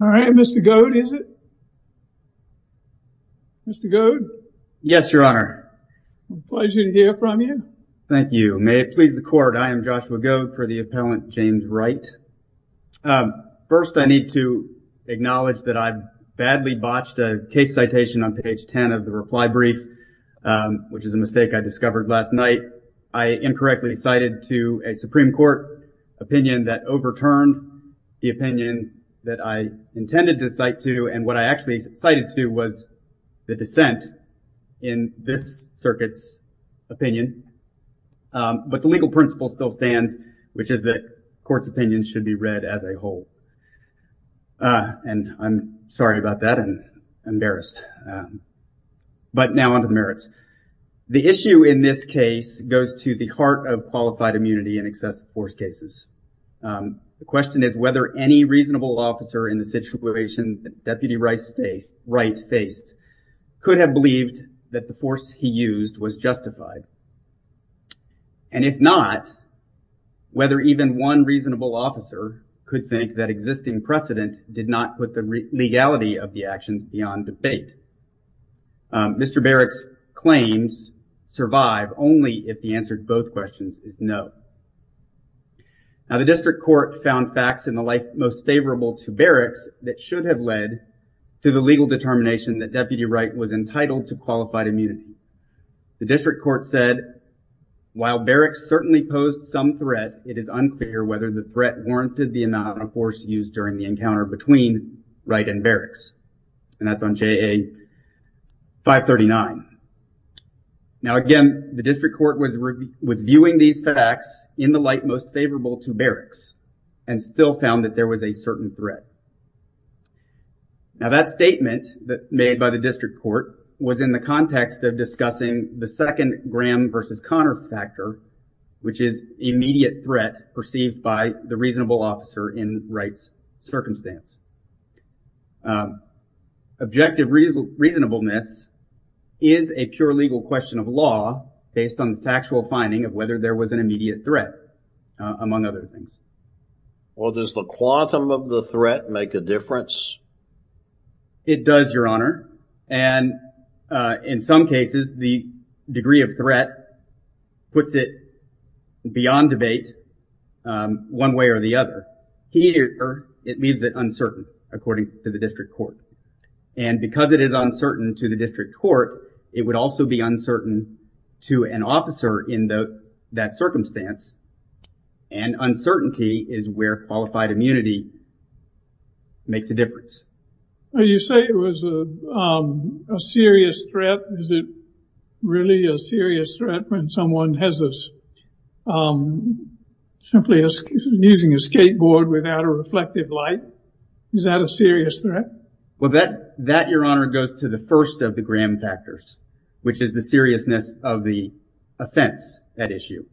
All right, Mr. Goad is it? Mr. Goad? Yes, Your Honor. Pleasure to hear from you. Thank you. May it please the court, I am Joshua Goad for the appellant James Wright. First, I need to acknowledge that I've badly botched a case citation on page 10 of the reply brief, which is a mistake I discovered last night. I incorrectly cited to a Supreme Court opinion that overturned the opinion that I intended to cite to and what I actually cited to was the dissent in this circuit's opinion. But the legal principle still stands, which is that court's opinions should be read as a whole. And I'm sorry about that and embarrassed. But now on to the merits. The The question is whether any reasonable officer in the situation that Deputy Wright faced could have believed that the force he used was justified. And if not, whether even one reasonable officer could think that existing precedent did not put the legality of the actions beyond debate. Mr. Barrick's claims survive only if the answer to both questions is no. Now the district court found facts in the life most favorable to Barrick's that should have led to the legal determination that Deputy Wright was entitled to qualified immunity. The district court said, while Barrick's certainly posed some threat, it is unclear whether the threat warranted the amount of force used during the between Wright and Barrick's. And that's on JA 539. Now again, the district court was reviewing these facts in the light most favorable to Barrick's and still found that there was a certain threat. Now that statement that made by the district court was in the context of discussing the second Graham versus Connor factor, which is immediate threat perceived by the reasonable officer in its circumstance. Objective reasonableness is a pure legal question of law based on the factual finding of whether there was an immediate threat among other things. Well, does the quantum of the threat make a difference? It does, Your Honor, and in some cases the degree of threat puts it beyond debate one way or the other. Here, it means it uncertain according to the district court. And because it is uncertain to the district court, it would also be uncertain to an officer in that circumstance. And uncertainty is where qualified immunity makes a difference. You say it was a serious threat. Is it really a serious threat when someone has a simply using a skateboard without a reflective light? Is that a serious threat? Well, that Your Honor goes to the first of the Graham factors, which is the seriousness of the offense at issue.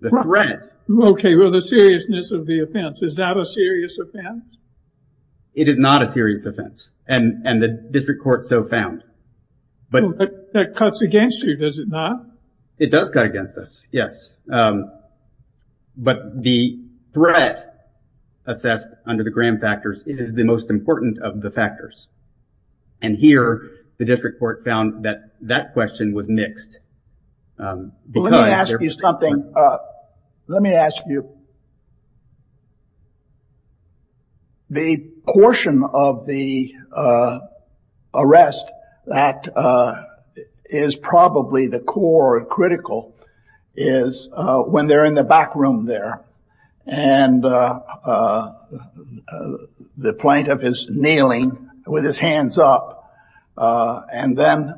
The threat. Okay, well the seriousness of the offense. Is that a serious offense? It is not a serious offense and the district court so found. But that cuts against you, does it not? It does cut against us, yes. But the threat assessed under the Graham factors is the most important of the factors. And here, the district court found that that question was mixed. Let me ask you something. Let me ask you. The core and critical is when they're in the back room there and the plaintiff is kneeling with his hands up and then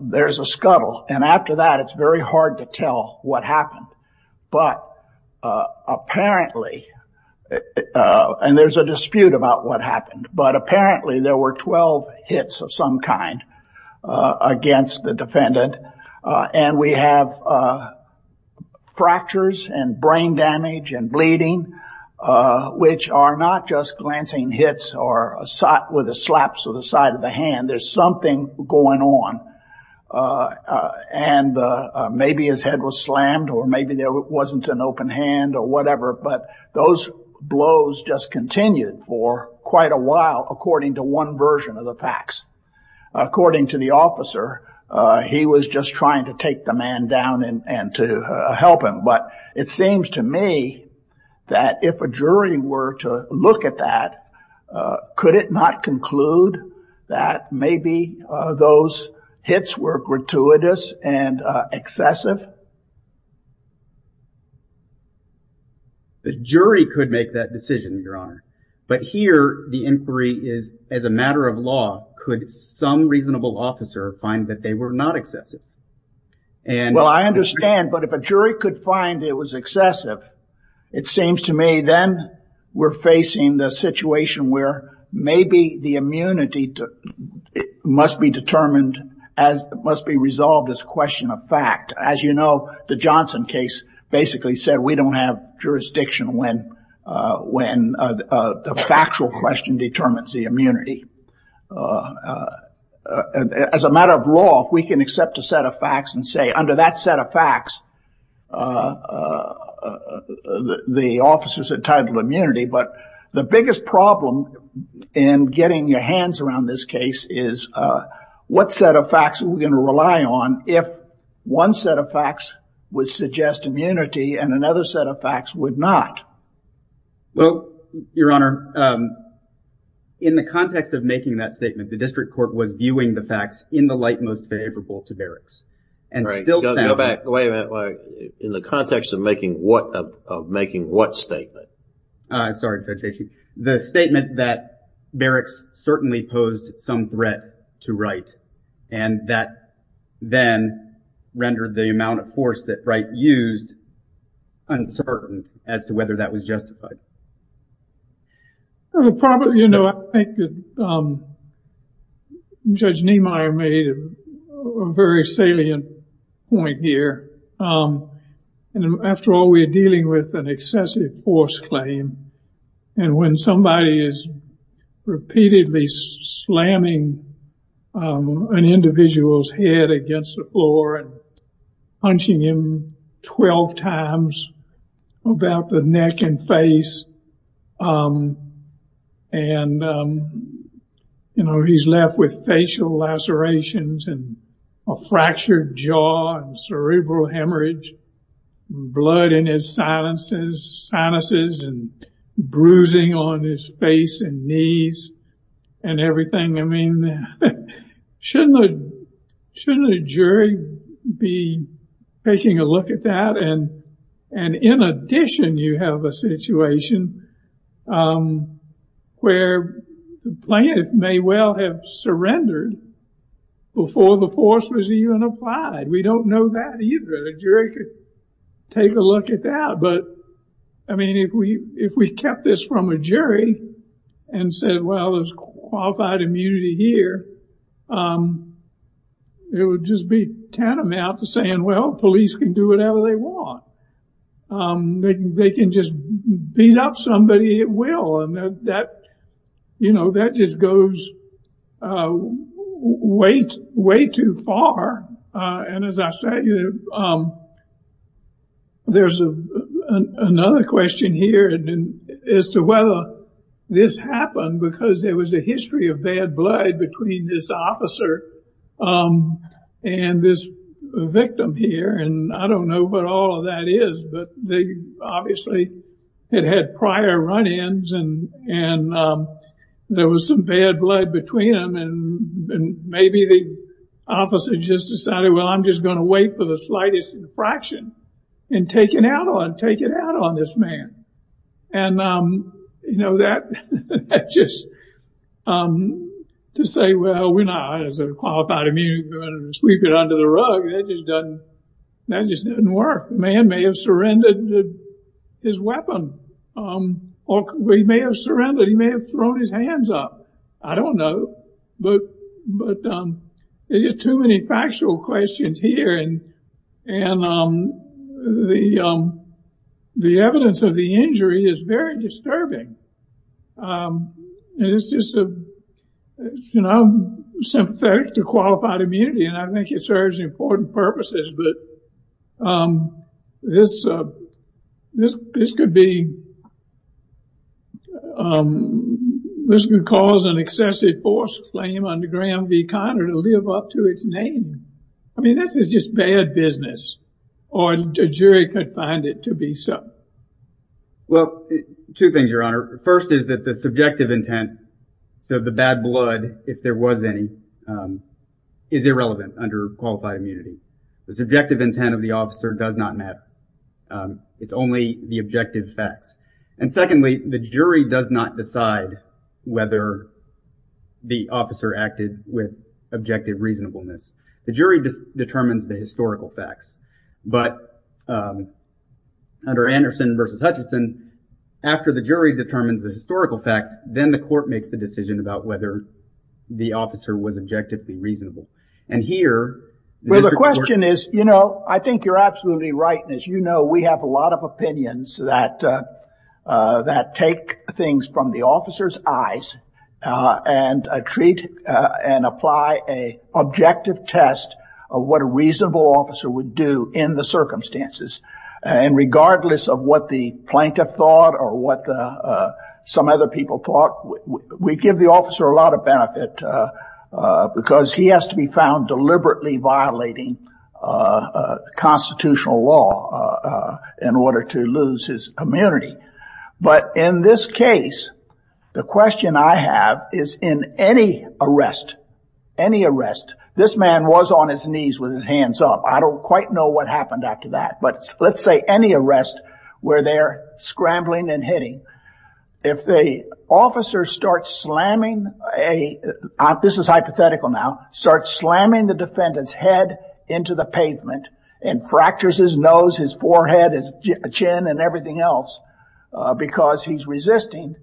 there's a scuttle. And after that, it's very hard to tell what happened. But apparently, and there's a dispute about what happened, but apparently there were 12 hits of some kind against the defendant. And we have fractures and brain damage and bleeding, which are not just glancing hits or a shot with a slap to the side of the hand. There's something going on. And maybe his head was slammed or maybe there wasn't an open hand or whatever. But those blows just continued for quite a while according to one version of the facts. According to the officer, he was just trying to take the man down and to help him. But it seems to me that if a jury were to look at that, could it not conclude that maybe those hits were gratuitous and excessive? The jury could make that decision, Your Honor. But here, the inquiry is as a matter of law, could some reasonable officer find that they were not excessive? Well, I understand. But if a jury could find it was excessive, it seems to me then we're facing the situation where maybe the immunity must be determined as it must be resolved as a question of fact. As you know, the Johnson case basically said we don't have jurisdiction when the factual question determines the immunity. As a matter of law, if we can accept a set of facts and say under that set of facts, the officers are entitled to immunity. But the biggest problem in getting your hands around this case is what set of facts are we going to rely on if one set of facts would suggest immunity and another set of facts would not? Well, Your Honor, in the context of making that statement, the district court was viewing the facts in the light most favorable to Barracks. And still... Go back. Wait a minute. In the context of making what statement? Sorry. The statement that Barracks certainly posed some threat to Wright and that then rendered the amount of force that Wright used uncertain as to whether that was justified. You know, I think that Judge Niemeyer made a very salient point here. And after all, we're dealing with an excessive force claim. And when somebody is repeatedly slamming an individual's head against the floor and punching him 12 times about the neck and face, and, you know, he's left with facial lacerations and a fractured jaw and cerebral hemorrhage, blood in his sinuses and bruising on his face and knees and everything. I mean, shouldn't a jury be taking a look at that? And in addition, you have a situation where the plaintiff may well have surrendered before the force was even applied. We don't know that either. The jury could take a look at that. But I mean, if we kept this from a jury and said, well, there's qualified immunity here, it would just be tantamount to saying, well, police can do whatever they want. They can just beat up somebody at will. And that, you know, that just goes way, way too far. And as I said, there's another question here as to whether this happened because there was a history of bad blood between this officer and this victim here. And I don't know what all of that is, but they obviously had had run-ins and there was some bad blood between them. And maybe the officer just decided, well, I'm just going to wait for the slightest infraction and take it out on this man. And, you know, that just to say, well, we're not qualified immunity, sweep it under the rug, that just doesn't work. The man may have surrendered his weapon. Or he may have surrendered, he may have thrown his hands up. I don't know. But there are too many factual questions here. And the evidence of the injury is very disturbing. And it's just, you know, sympathetic to qualified immunity. And I think it serves important purposes. But this could be, this could cause an excessive force claim under Graham v. Conner to live up to its name. I mean, this is just bad business. Or a jury could find it to be so. Well, two things, Your Honor. First is that the subjective intent, so the bad blood, if there was any, is irrelevant under qualified immunity. The subjective intent of the officer does not matter. It's only the objective facts. And secondly, the jury does not decide whether the officer acted with objective reasonableness. The jury determines the historical facts. But under Anderson v. Hutchinson, after the jury determines the historical facts, then the court makes the decision about whether the officer was objectively reasonable. And here, the question is, you know, I think you're absolutely right. And as you know, we have a lot of opinions that take things from the officer's eyes and treat and apply a objective test of what a reasonable officer would do in the circumstances. And regardless of what the plaintiff thought or what some other people thought, we give the officer a lot of benefit because he has to be found deliberately violating constitutional law in order to lose his immunity. But in this case, the question I have is in any arrest, any arrest, this man was on his knees with his hands up. I don't quite know what happened after that. But let's say any arrest where they're scrambling and hitting, if the officer starts slamming a, this is hypothetical now, starts slamming the defendant's head into the pavement and fractures his nose, his forehead, his chin, and everything else because he's resisting,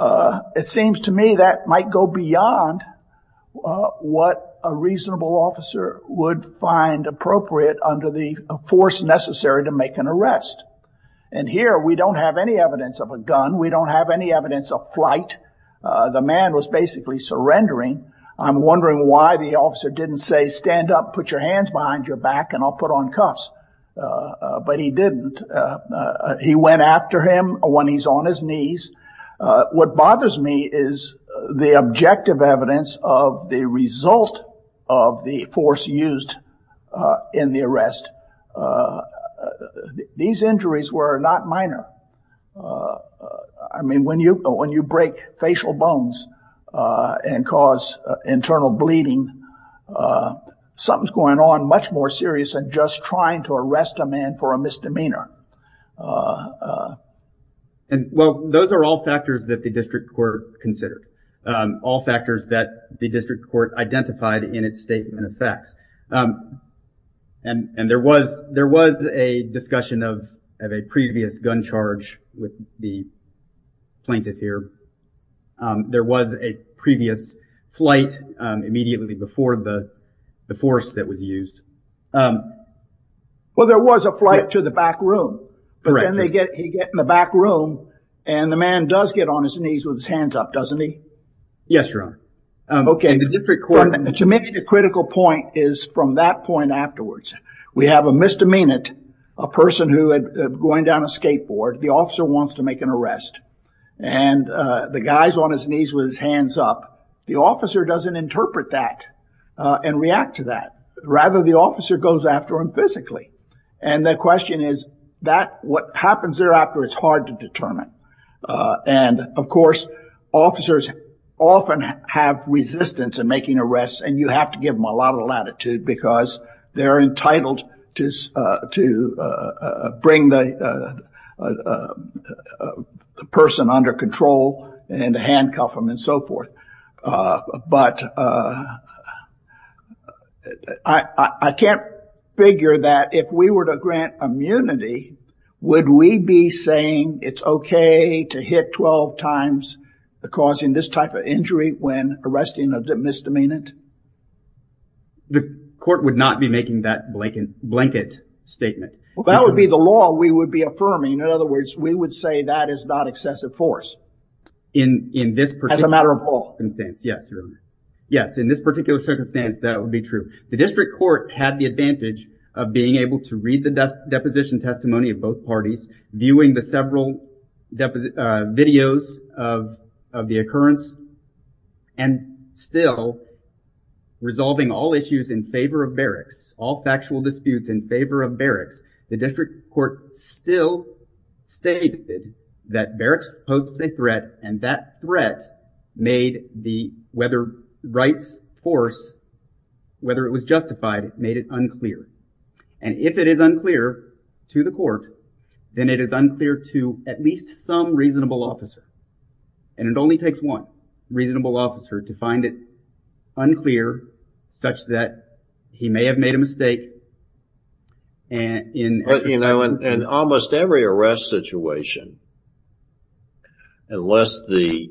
it seems to me that might go beyond what a reasonable officer would find appropriate under the force necessary to make an arrest. And here we don't have any evidence of a gun. We don't have any evidence of flight. The man was basically surrendering. I'm wondering why the officer didn't say stand up, put your hands behind your back, and I'll put on cuffs. But he didn't. He went after him when he's on his knees. What bothers me is the objective evidence of the result of the force used in the arrest. These injuries were not minor. I mean, when you, when you break facial bones and cause internal bleeding, something's going on much more serious than just trying to arrest a man for a misdemeanor. And well, those are all factors that the district court considered. All factors that the district court identified in its statement of facts. And there was a discussion of a previous gun charge with the plaintiff here. There was a previous flight immediately before the force that was used. Well, there was a flight to the back room, but then they get, he get in the back room and the man does get on his knees with his hands up, doesn't he? Yes, your honor. Okay. To me, the critical point is from that point afterwards, we have a misdemeanor, a person who had, going down a skateboard, the officer wants to make an arrest and the guy's on his knees with his hands up. The officer doesn't interpret that and react to that. Rather, the officer goes after him physically. And the question is, that what happens thereafter is hard to determine. And of course, officers often have resistance in making arrests and you have to give them a lot of latitude because they're entitled to bring the person under control and handcuff them and so forth. But I can't figure that if we were to grant immunity, would we be saying it's okay to hit 12 times causing this type of injury when arresting a misdemeanant? The court would not be making that blanket statement. Well, that would be the law we would be affirming. In other words, we would say that is not excessive force. In this particular... As a matter of law. Yes, Your Honor. Yes, in this particular circumstance, that would be true. The district court had the advantage of being able to read the deposition testimony of both parties, viewing the several videos of the occurrence and still resolving all issues in favor of barracks, all factual disputes in favor of barracks. The district court still stated that barracks posed a threat and that threat made the whether rights force, whether it was justified, made it unclear. And if it is unclear to the court, then it is unclear to at least some reasonable officer. And it only takes one reasonable officer to find it unclear such that he may have made a mistake. But, you know, in almost every arrest situation, unless the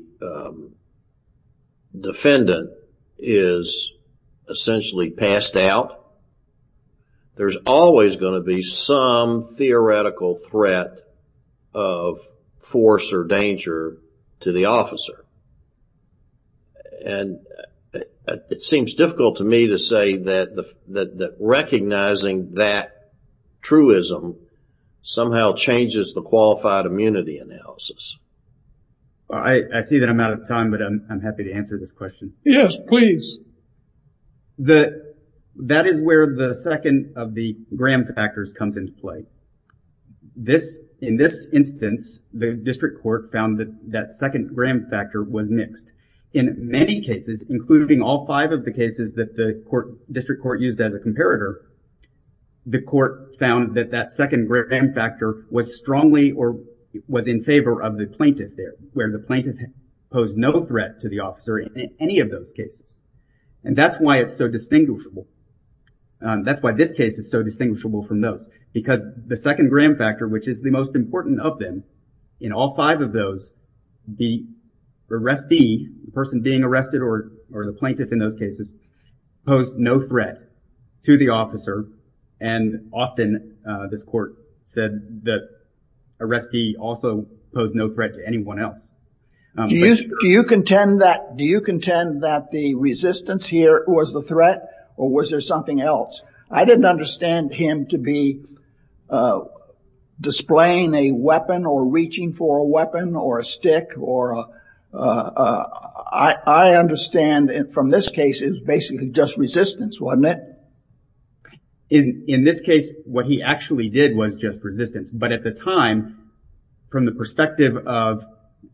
defendant is essentially passed out, there's always going to be some theoretical threat of force or danger to the officer. And it seems difficult to me to say that recognizing that truism somehow changes the qualified immunity analysis. I see that I'm out of time, but I'm happy to answer this question. Yes, please. That is where the second of the Graham factors comes into play. This in this instance, the district court found that that second Graham factor was mixed in many cases, including all five of the cases that the court district court used as a comparator. The court found that that second Graham factor was strongly or was in favor of the plaintiff there where the plaintiff posed no threat to the officer in any of those cases. And that's why it's so distinguishable. That's why this case is so distinguishable from those, because the second Graham factor, which is the most important of them in all five of those, the arrestee, the person being arrested or the plaintiff in those cases, posed no threat to the officer. And often this court said that arrestee also posed no threat to anyone else. Do you contend that the resistance here was the threat or was there something else? I didn't understand him to be displaying a weapon or reaching for a weapon or a stick, or I understand from this case is basically just resistance, wasn't it? In this case, what he actually did was just resistance. But at the time, from the perspective of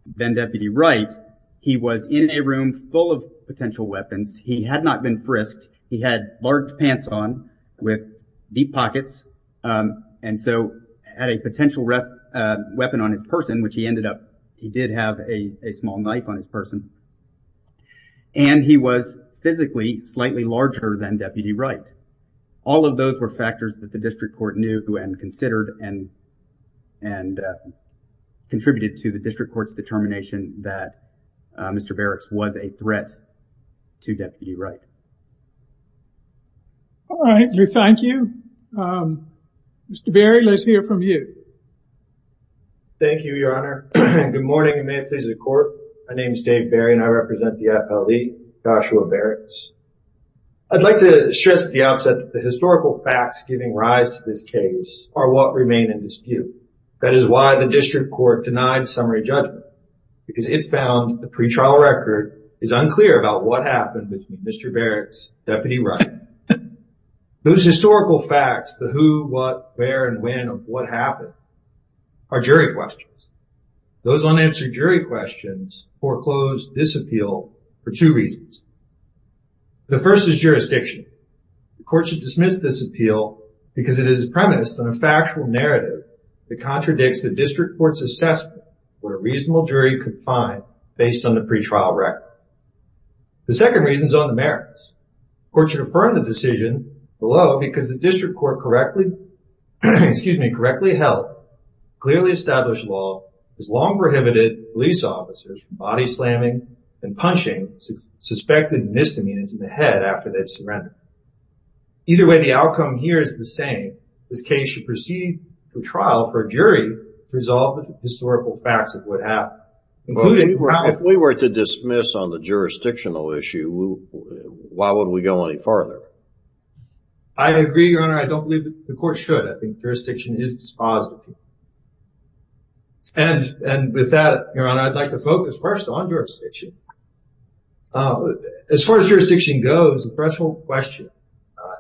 then Deputy Wright, he was in a room full of potential weapons. He had not been frisked. He had large pants on with deep pockets. And so had a potential weapon on his person, which he ended up, he did have a small knife on his person. And he was physically slightly larger than Deputy Wright. All of those were factors that the district court knew and considered and contributed to the district court's determination that Mr. Barracks was a threat to Deputy Wright. All right, we thank you. Mr. Barry, let's hear from you. Thank you, Your Honor. Good morning, and may it please the court. My name is Dave Barry and I represent the FLE, Joshua Barracks. I'd like to stress at the outset that the historical facts giving rise to this case are what remain in dispute. That is why the district court denied summary judgment, because it found the pretrial record is unclear about what happened between Mr. Barracks and Deputy Wright. Those historical facts, the who, what, where, and when of what happened, are jury questions. Those unanswered jury questions foreclosed this appeal for two reasons. The first is jurisdiction. The court should dismiss this appeal because it is premised on a factual narrative that contradicts the district court's assessment of what a reasonable jury could find based on the pretrial record. The second reason is on the merits. The court should affirm the decision below because the district court correctly held, clearly established law, has long prohibited police officers from body slamming and punching suspected misdemeanors in the head after they've surrendered. Either way, the outcome here is the same. This case should proceed to trial for a jury to resolve the historical facts of what happened. If we were to dismiss on the jurisdictional issue, why would we go any farther? I agree, Your Honor. I don't believe the court should. I think jurisdiction is dispositive. And with that, Your Honor, I'd like to focus first on jurisdiction. As far as jurisdiction goes, the threshold question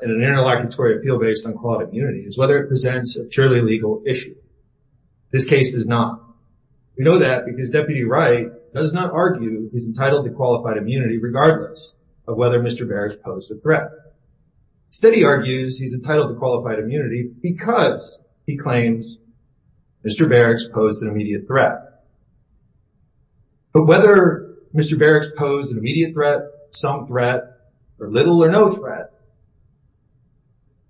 in an interlocutory appeal based on qualified immunity is whether it presents a purely legal issue. This case does not. We know that because Deputy Wright does not argue he's entitled to qualified immunity, regardless of whether Mr. Barracks posed a threat. Instead, he argues he's entitled to qualified immunity because he claims Mr. Barracks posed an immediate threat. But whether Mr. Barracks posed an immediate threat, some threat, or little or no threat,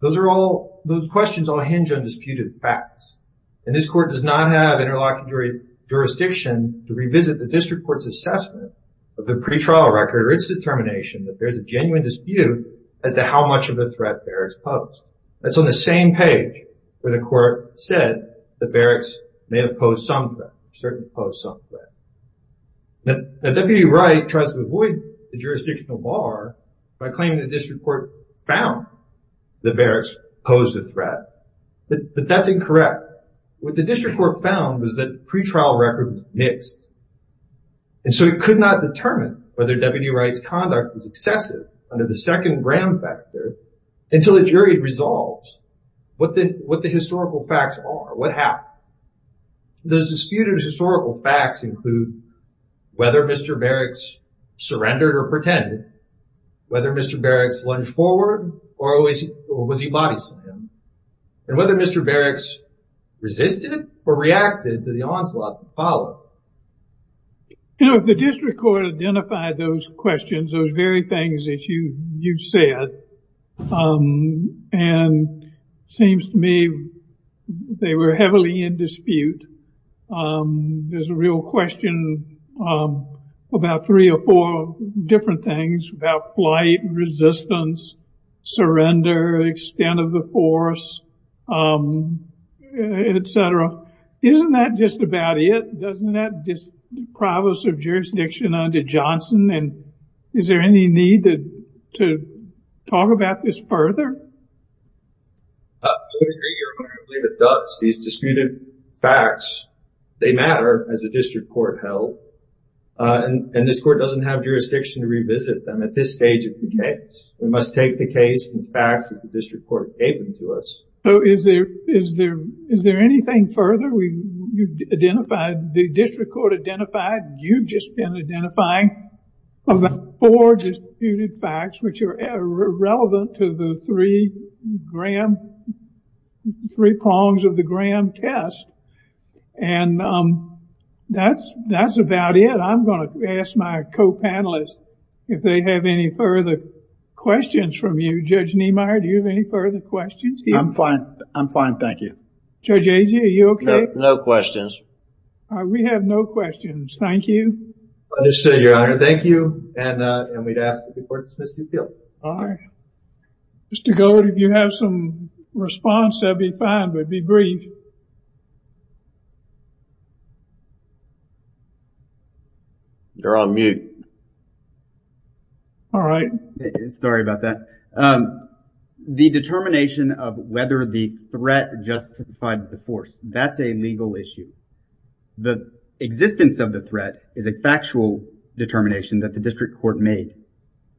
those are all, those questions all hinge on disputed facts. And this court does not have interlocutory jurisdiction to revisit the district court's assessment of the pretrial record or its determination that there's a genuine dispute as to how much of a threat Barracks posed. That's on the same page where the court said that Barracks may have posed some threat, certainly posed some threat. Now, Deputy Wright tries to avoid the jurisdictional bar by claiming the district court found that Barracks posed a threat. But that's incorrect. What the district court found was that pretrial record mixed. And so it could not determine whether Deputy Wright's conduct was excessive under the second Graham factor until a jury resolves what the historical facts are, what happened. Those disputed historical facts include whether Mr. Barracks surrendered or pretended, whether Mr. Barracks lunged forward or was he body slammed, and whether Mr. Barracks resisted or reacted to the onslaught that followed. You know, if the district court identified those questions, those very things that you said, and it seems to me they were heavily in dispute, there's a real question of about three or four different things about flight, resistance, surrender, extent of the force, etc. Isn't that just about it? Doesn't that deprive us of jurisdiction under Johnson? And is there any need to talk about this further? I would agree. You're right, I believe it does. These disputed facts, they matter as a district court held. And this court doesn't have jurisdiction to revisit them at this stage of the case. We must take the case and facts as the district court gave them to us. So is there anything further you've identified, the district court identified, you've just been identifying about four disputed facts, which are relevant to the three prongs of the Graham test. And that's about it. I'm going to ask my co-panelists if they have any further questions from you. Judge Niemeyer, do you have any further questions? I'm fine. I'm fine, thank you. Judge Agee, are you okay? No questions. We have no questions. Thank you. Understood, Your Honor. Thank you. And we'd ask the court to dismiss the appeal. All right. Mr. Gold, if you have some response, that'd be fine, but be brief. You're on mute. All right. Sorry about that. The determination of whether the threat justified the force, that's a legal issue. The existence of the threat is a factual determination that the district court made.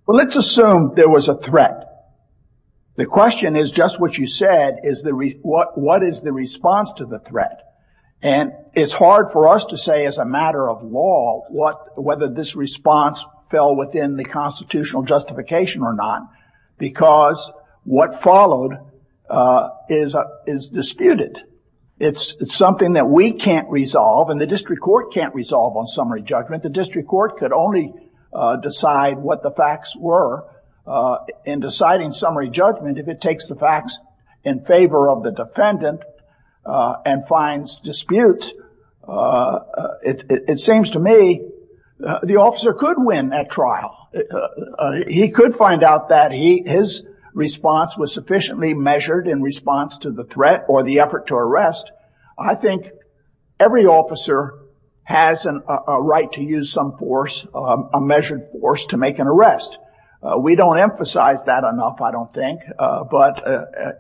Well, let's assume there was a threat. The question is just what you said, what is the response to the threat? And it's hard for us to say as a matter of law, whether this response fell within the constitutional justification or not, because what followed is disputed. It's something that we can't resolve and the district court can't resolve on summary judgment. The district court could only decide what the facts were in deciding summary judgment if it takes the facts in favor of the defendant and finds disputes. It seems to me the officer could win that trial. He could find out that his response was sufficiently measured in response to the effort to arrest. I think every officer has a right to use some force, a measured force to make an arrest. We don't emphasize that enough, I don't think, but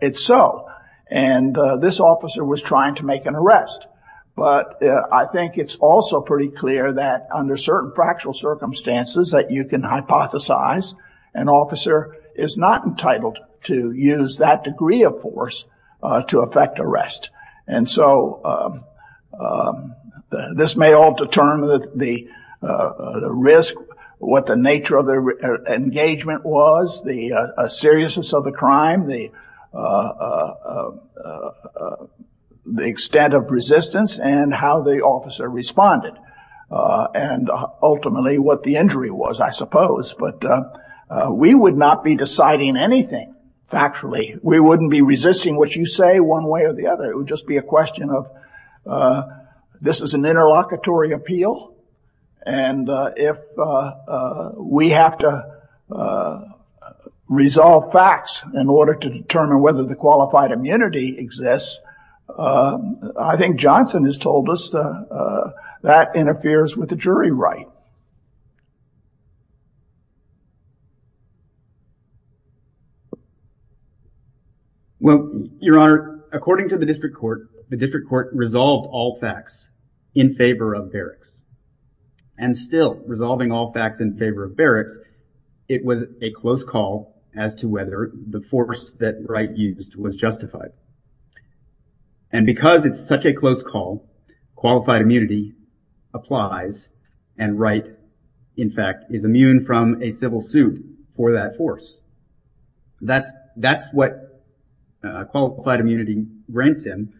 it's so. And this officer was trying to make an arrest, but I think it's also pretty clear that under certain factual circumstances that you can hypothesize an officer is not entitled to use that degree of force to effect arrest. And so this may all determine the risk, what the nature of the engagement was, the seriousness of the crime, the extent of resistance, and how the officer responded, and ultimately what the injury was, I suppose. But we would not be deciding anything factually. We wouldn't be resisting what you say one way or the other. It would just be a question of this is an interlocutory appeal. And if we have to resolve facts in order to determine whether the qualified immunity exists, I think Johnson has told us that interferes with the jury right. Well, Your Honor, according to the district court, the district court resolved all facts in favor of Barracks. And still resolving all facts in favor of Barracks, it was a close call as to whether the force that Wright used was justified. And because it's such a close call, qualified immunity applies, and Wright, in fact, is a civil suit for that force. That's what qualified immunity grants him.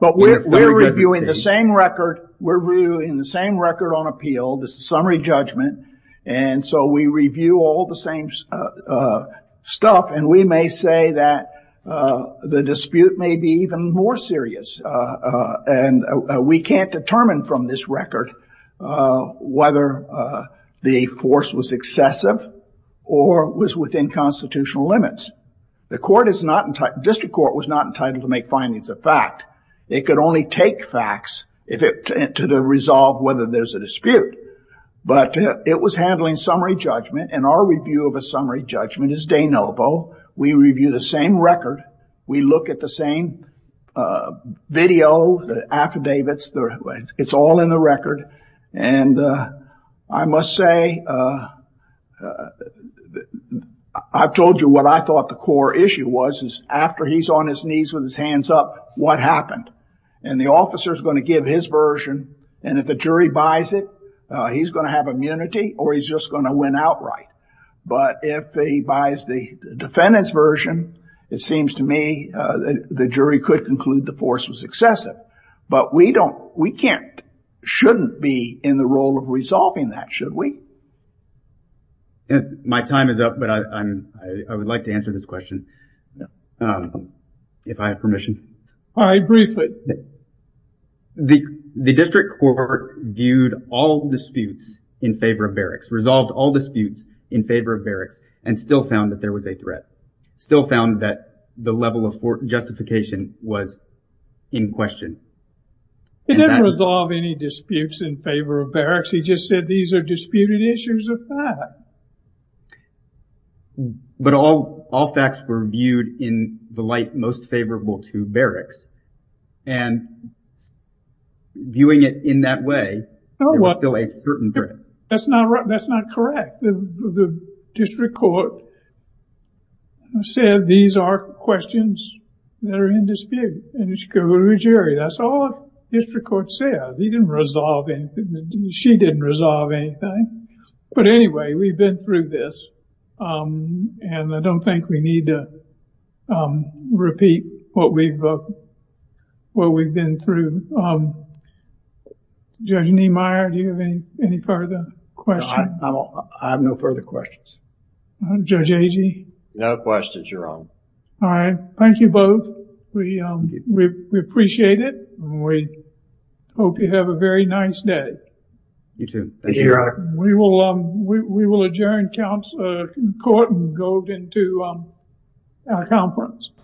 But we're reviewing the same record. We're reviewing the same record on appeal, the summary judgment. And so we review all the same stuff. And we may say that the dispute may be even more serious. And we can't determine from this record whether the force was excessive or was within constitutional limits. District court was not entitled to make findings of fact. It could only take facts to resolve whether there's a dispute. But it was handling summary judgment. And our review of a summary judgment is de novo. We review the same record. We look at the same video, the affidavits. It's all in the record. And I must say, I've told you what I thought the core issue was, is after he's on his knees with his hands up, what happened? And the officer is going to give his version. And if the jury buys it, he's going to have immunity or he's just going to win outright. But if he buys the defendant's version, it seems to me that the jury could conclude the force was excessive. But we don't, we can't, shouldn't be in the role of resolving that, should we? And my time is up, but I would like to answer this question. If I have permission. I agree. The district court viewed all disputes in favor of barracks, resolved all disputes in favor of barracks, and still found that there was a threat. Still found that the level of justification was in question. It didn't resolve any disputes in favor of barracks. He just said these are disputed issues of fact. But all facts were viewed in the light most favorable to barracks. And viewing it in that way, there was still a certain threat. That's not correct. The district court said these are questions that are in dispute. And it should go to a jury. That's all the district court said. He didn't resolve anything. She didn't resolve anything. But anyway, we've been through this. And I don't think we need to repeat what we've been through. Judge Niemeyer, do you have any further questions? I have no further questions. Judge Agee? No questions, Your Honor. All right. Thank you both. We appreciate it. We hope you have a very nice day. You too. Thank you, Your Honor. We will adjourn court and go into our conference.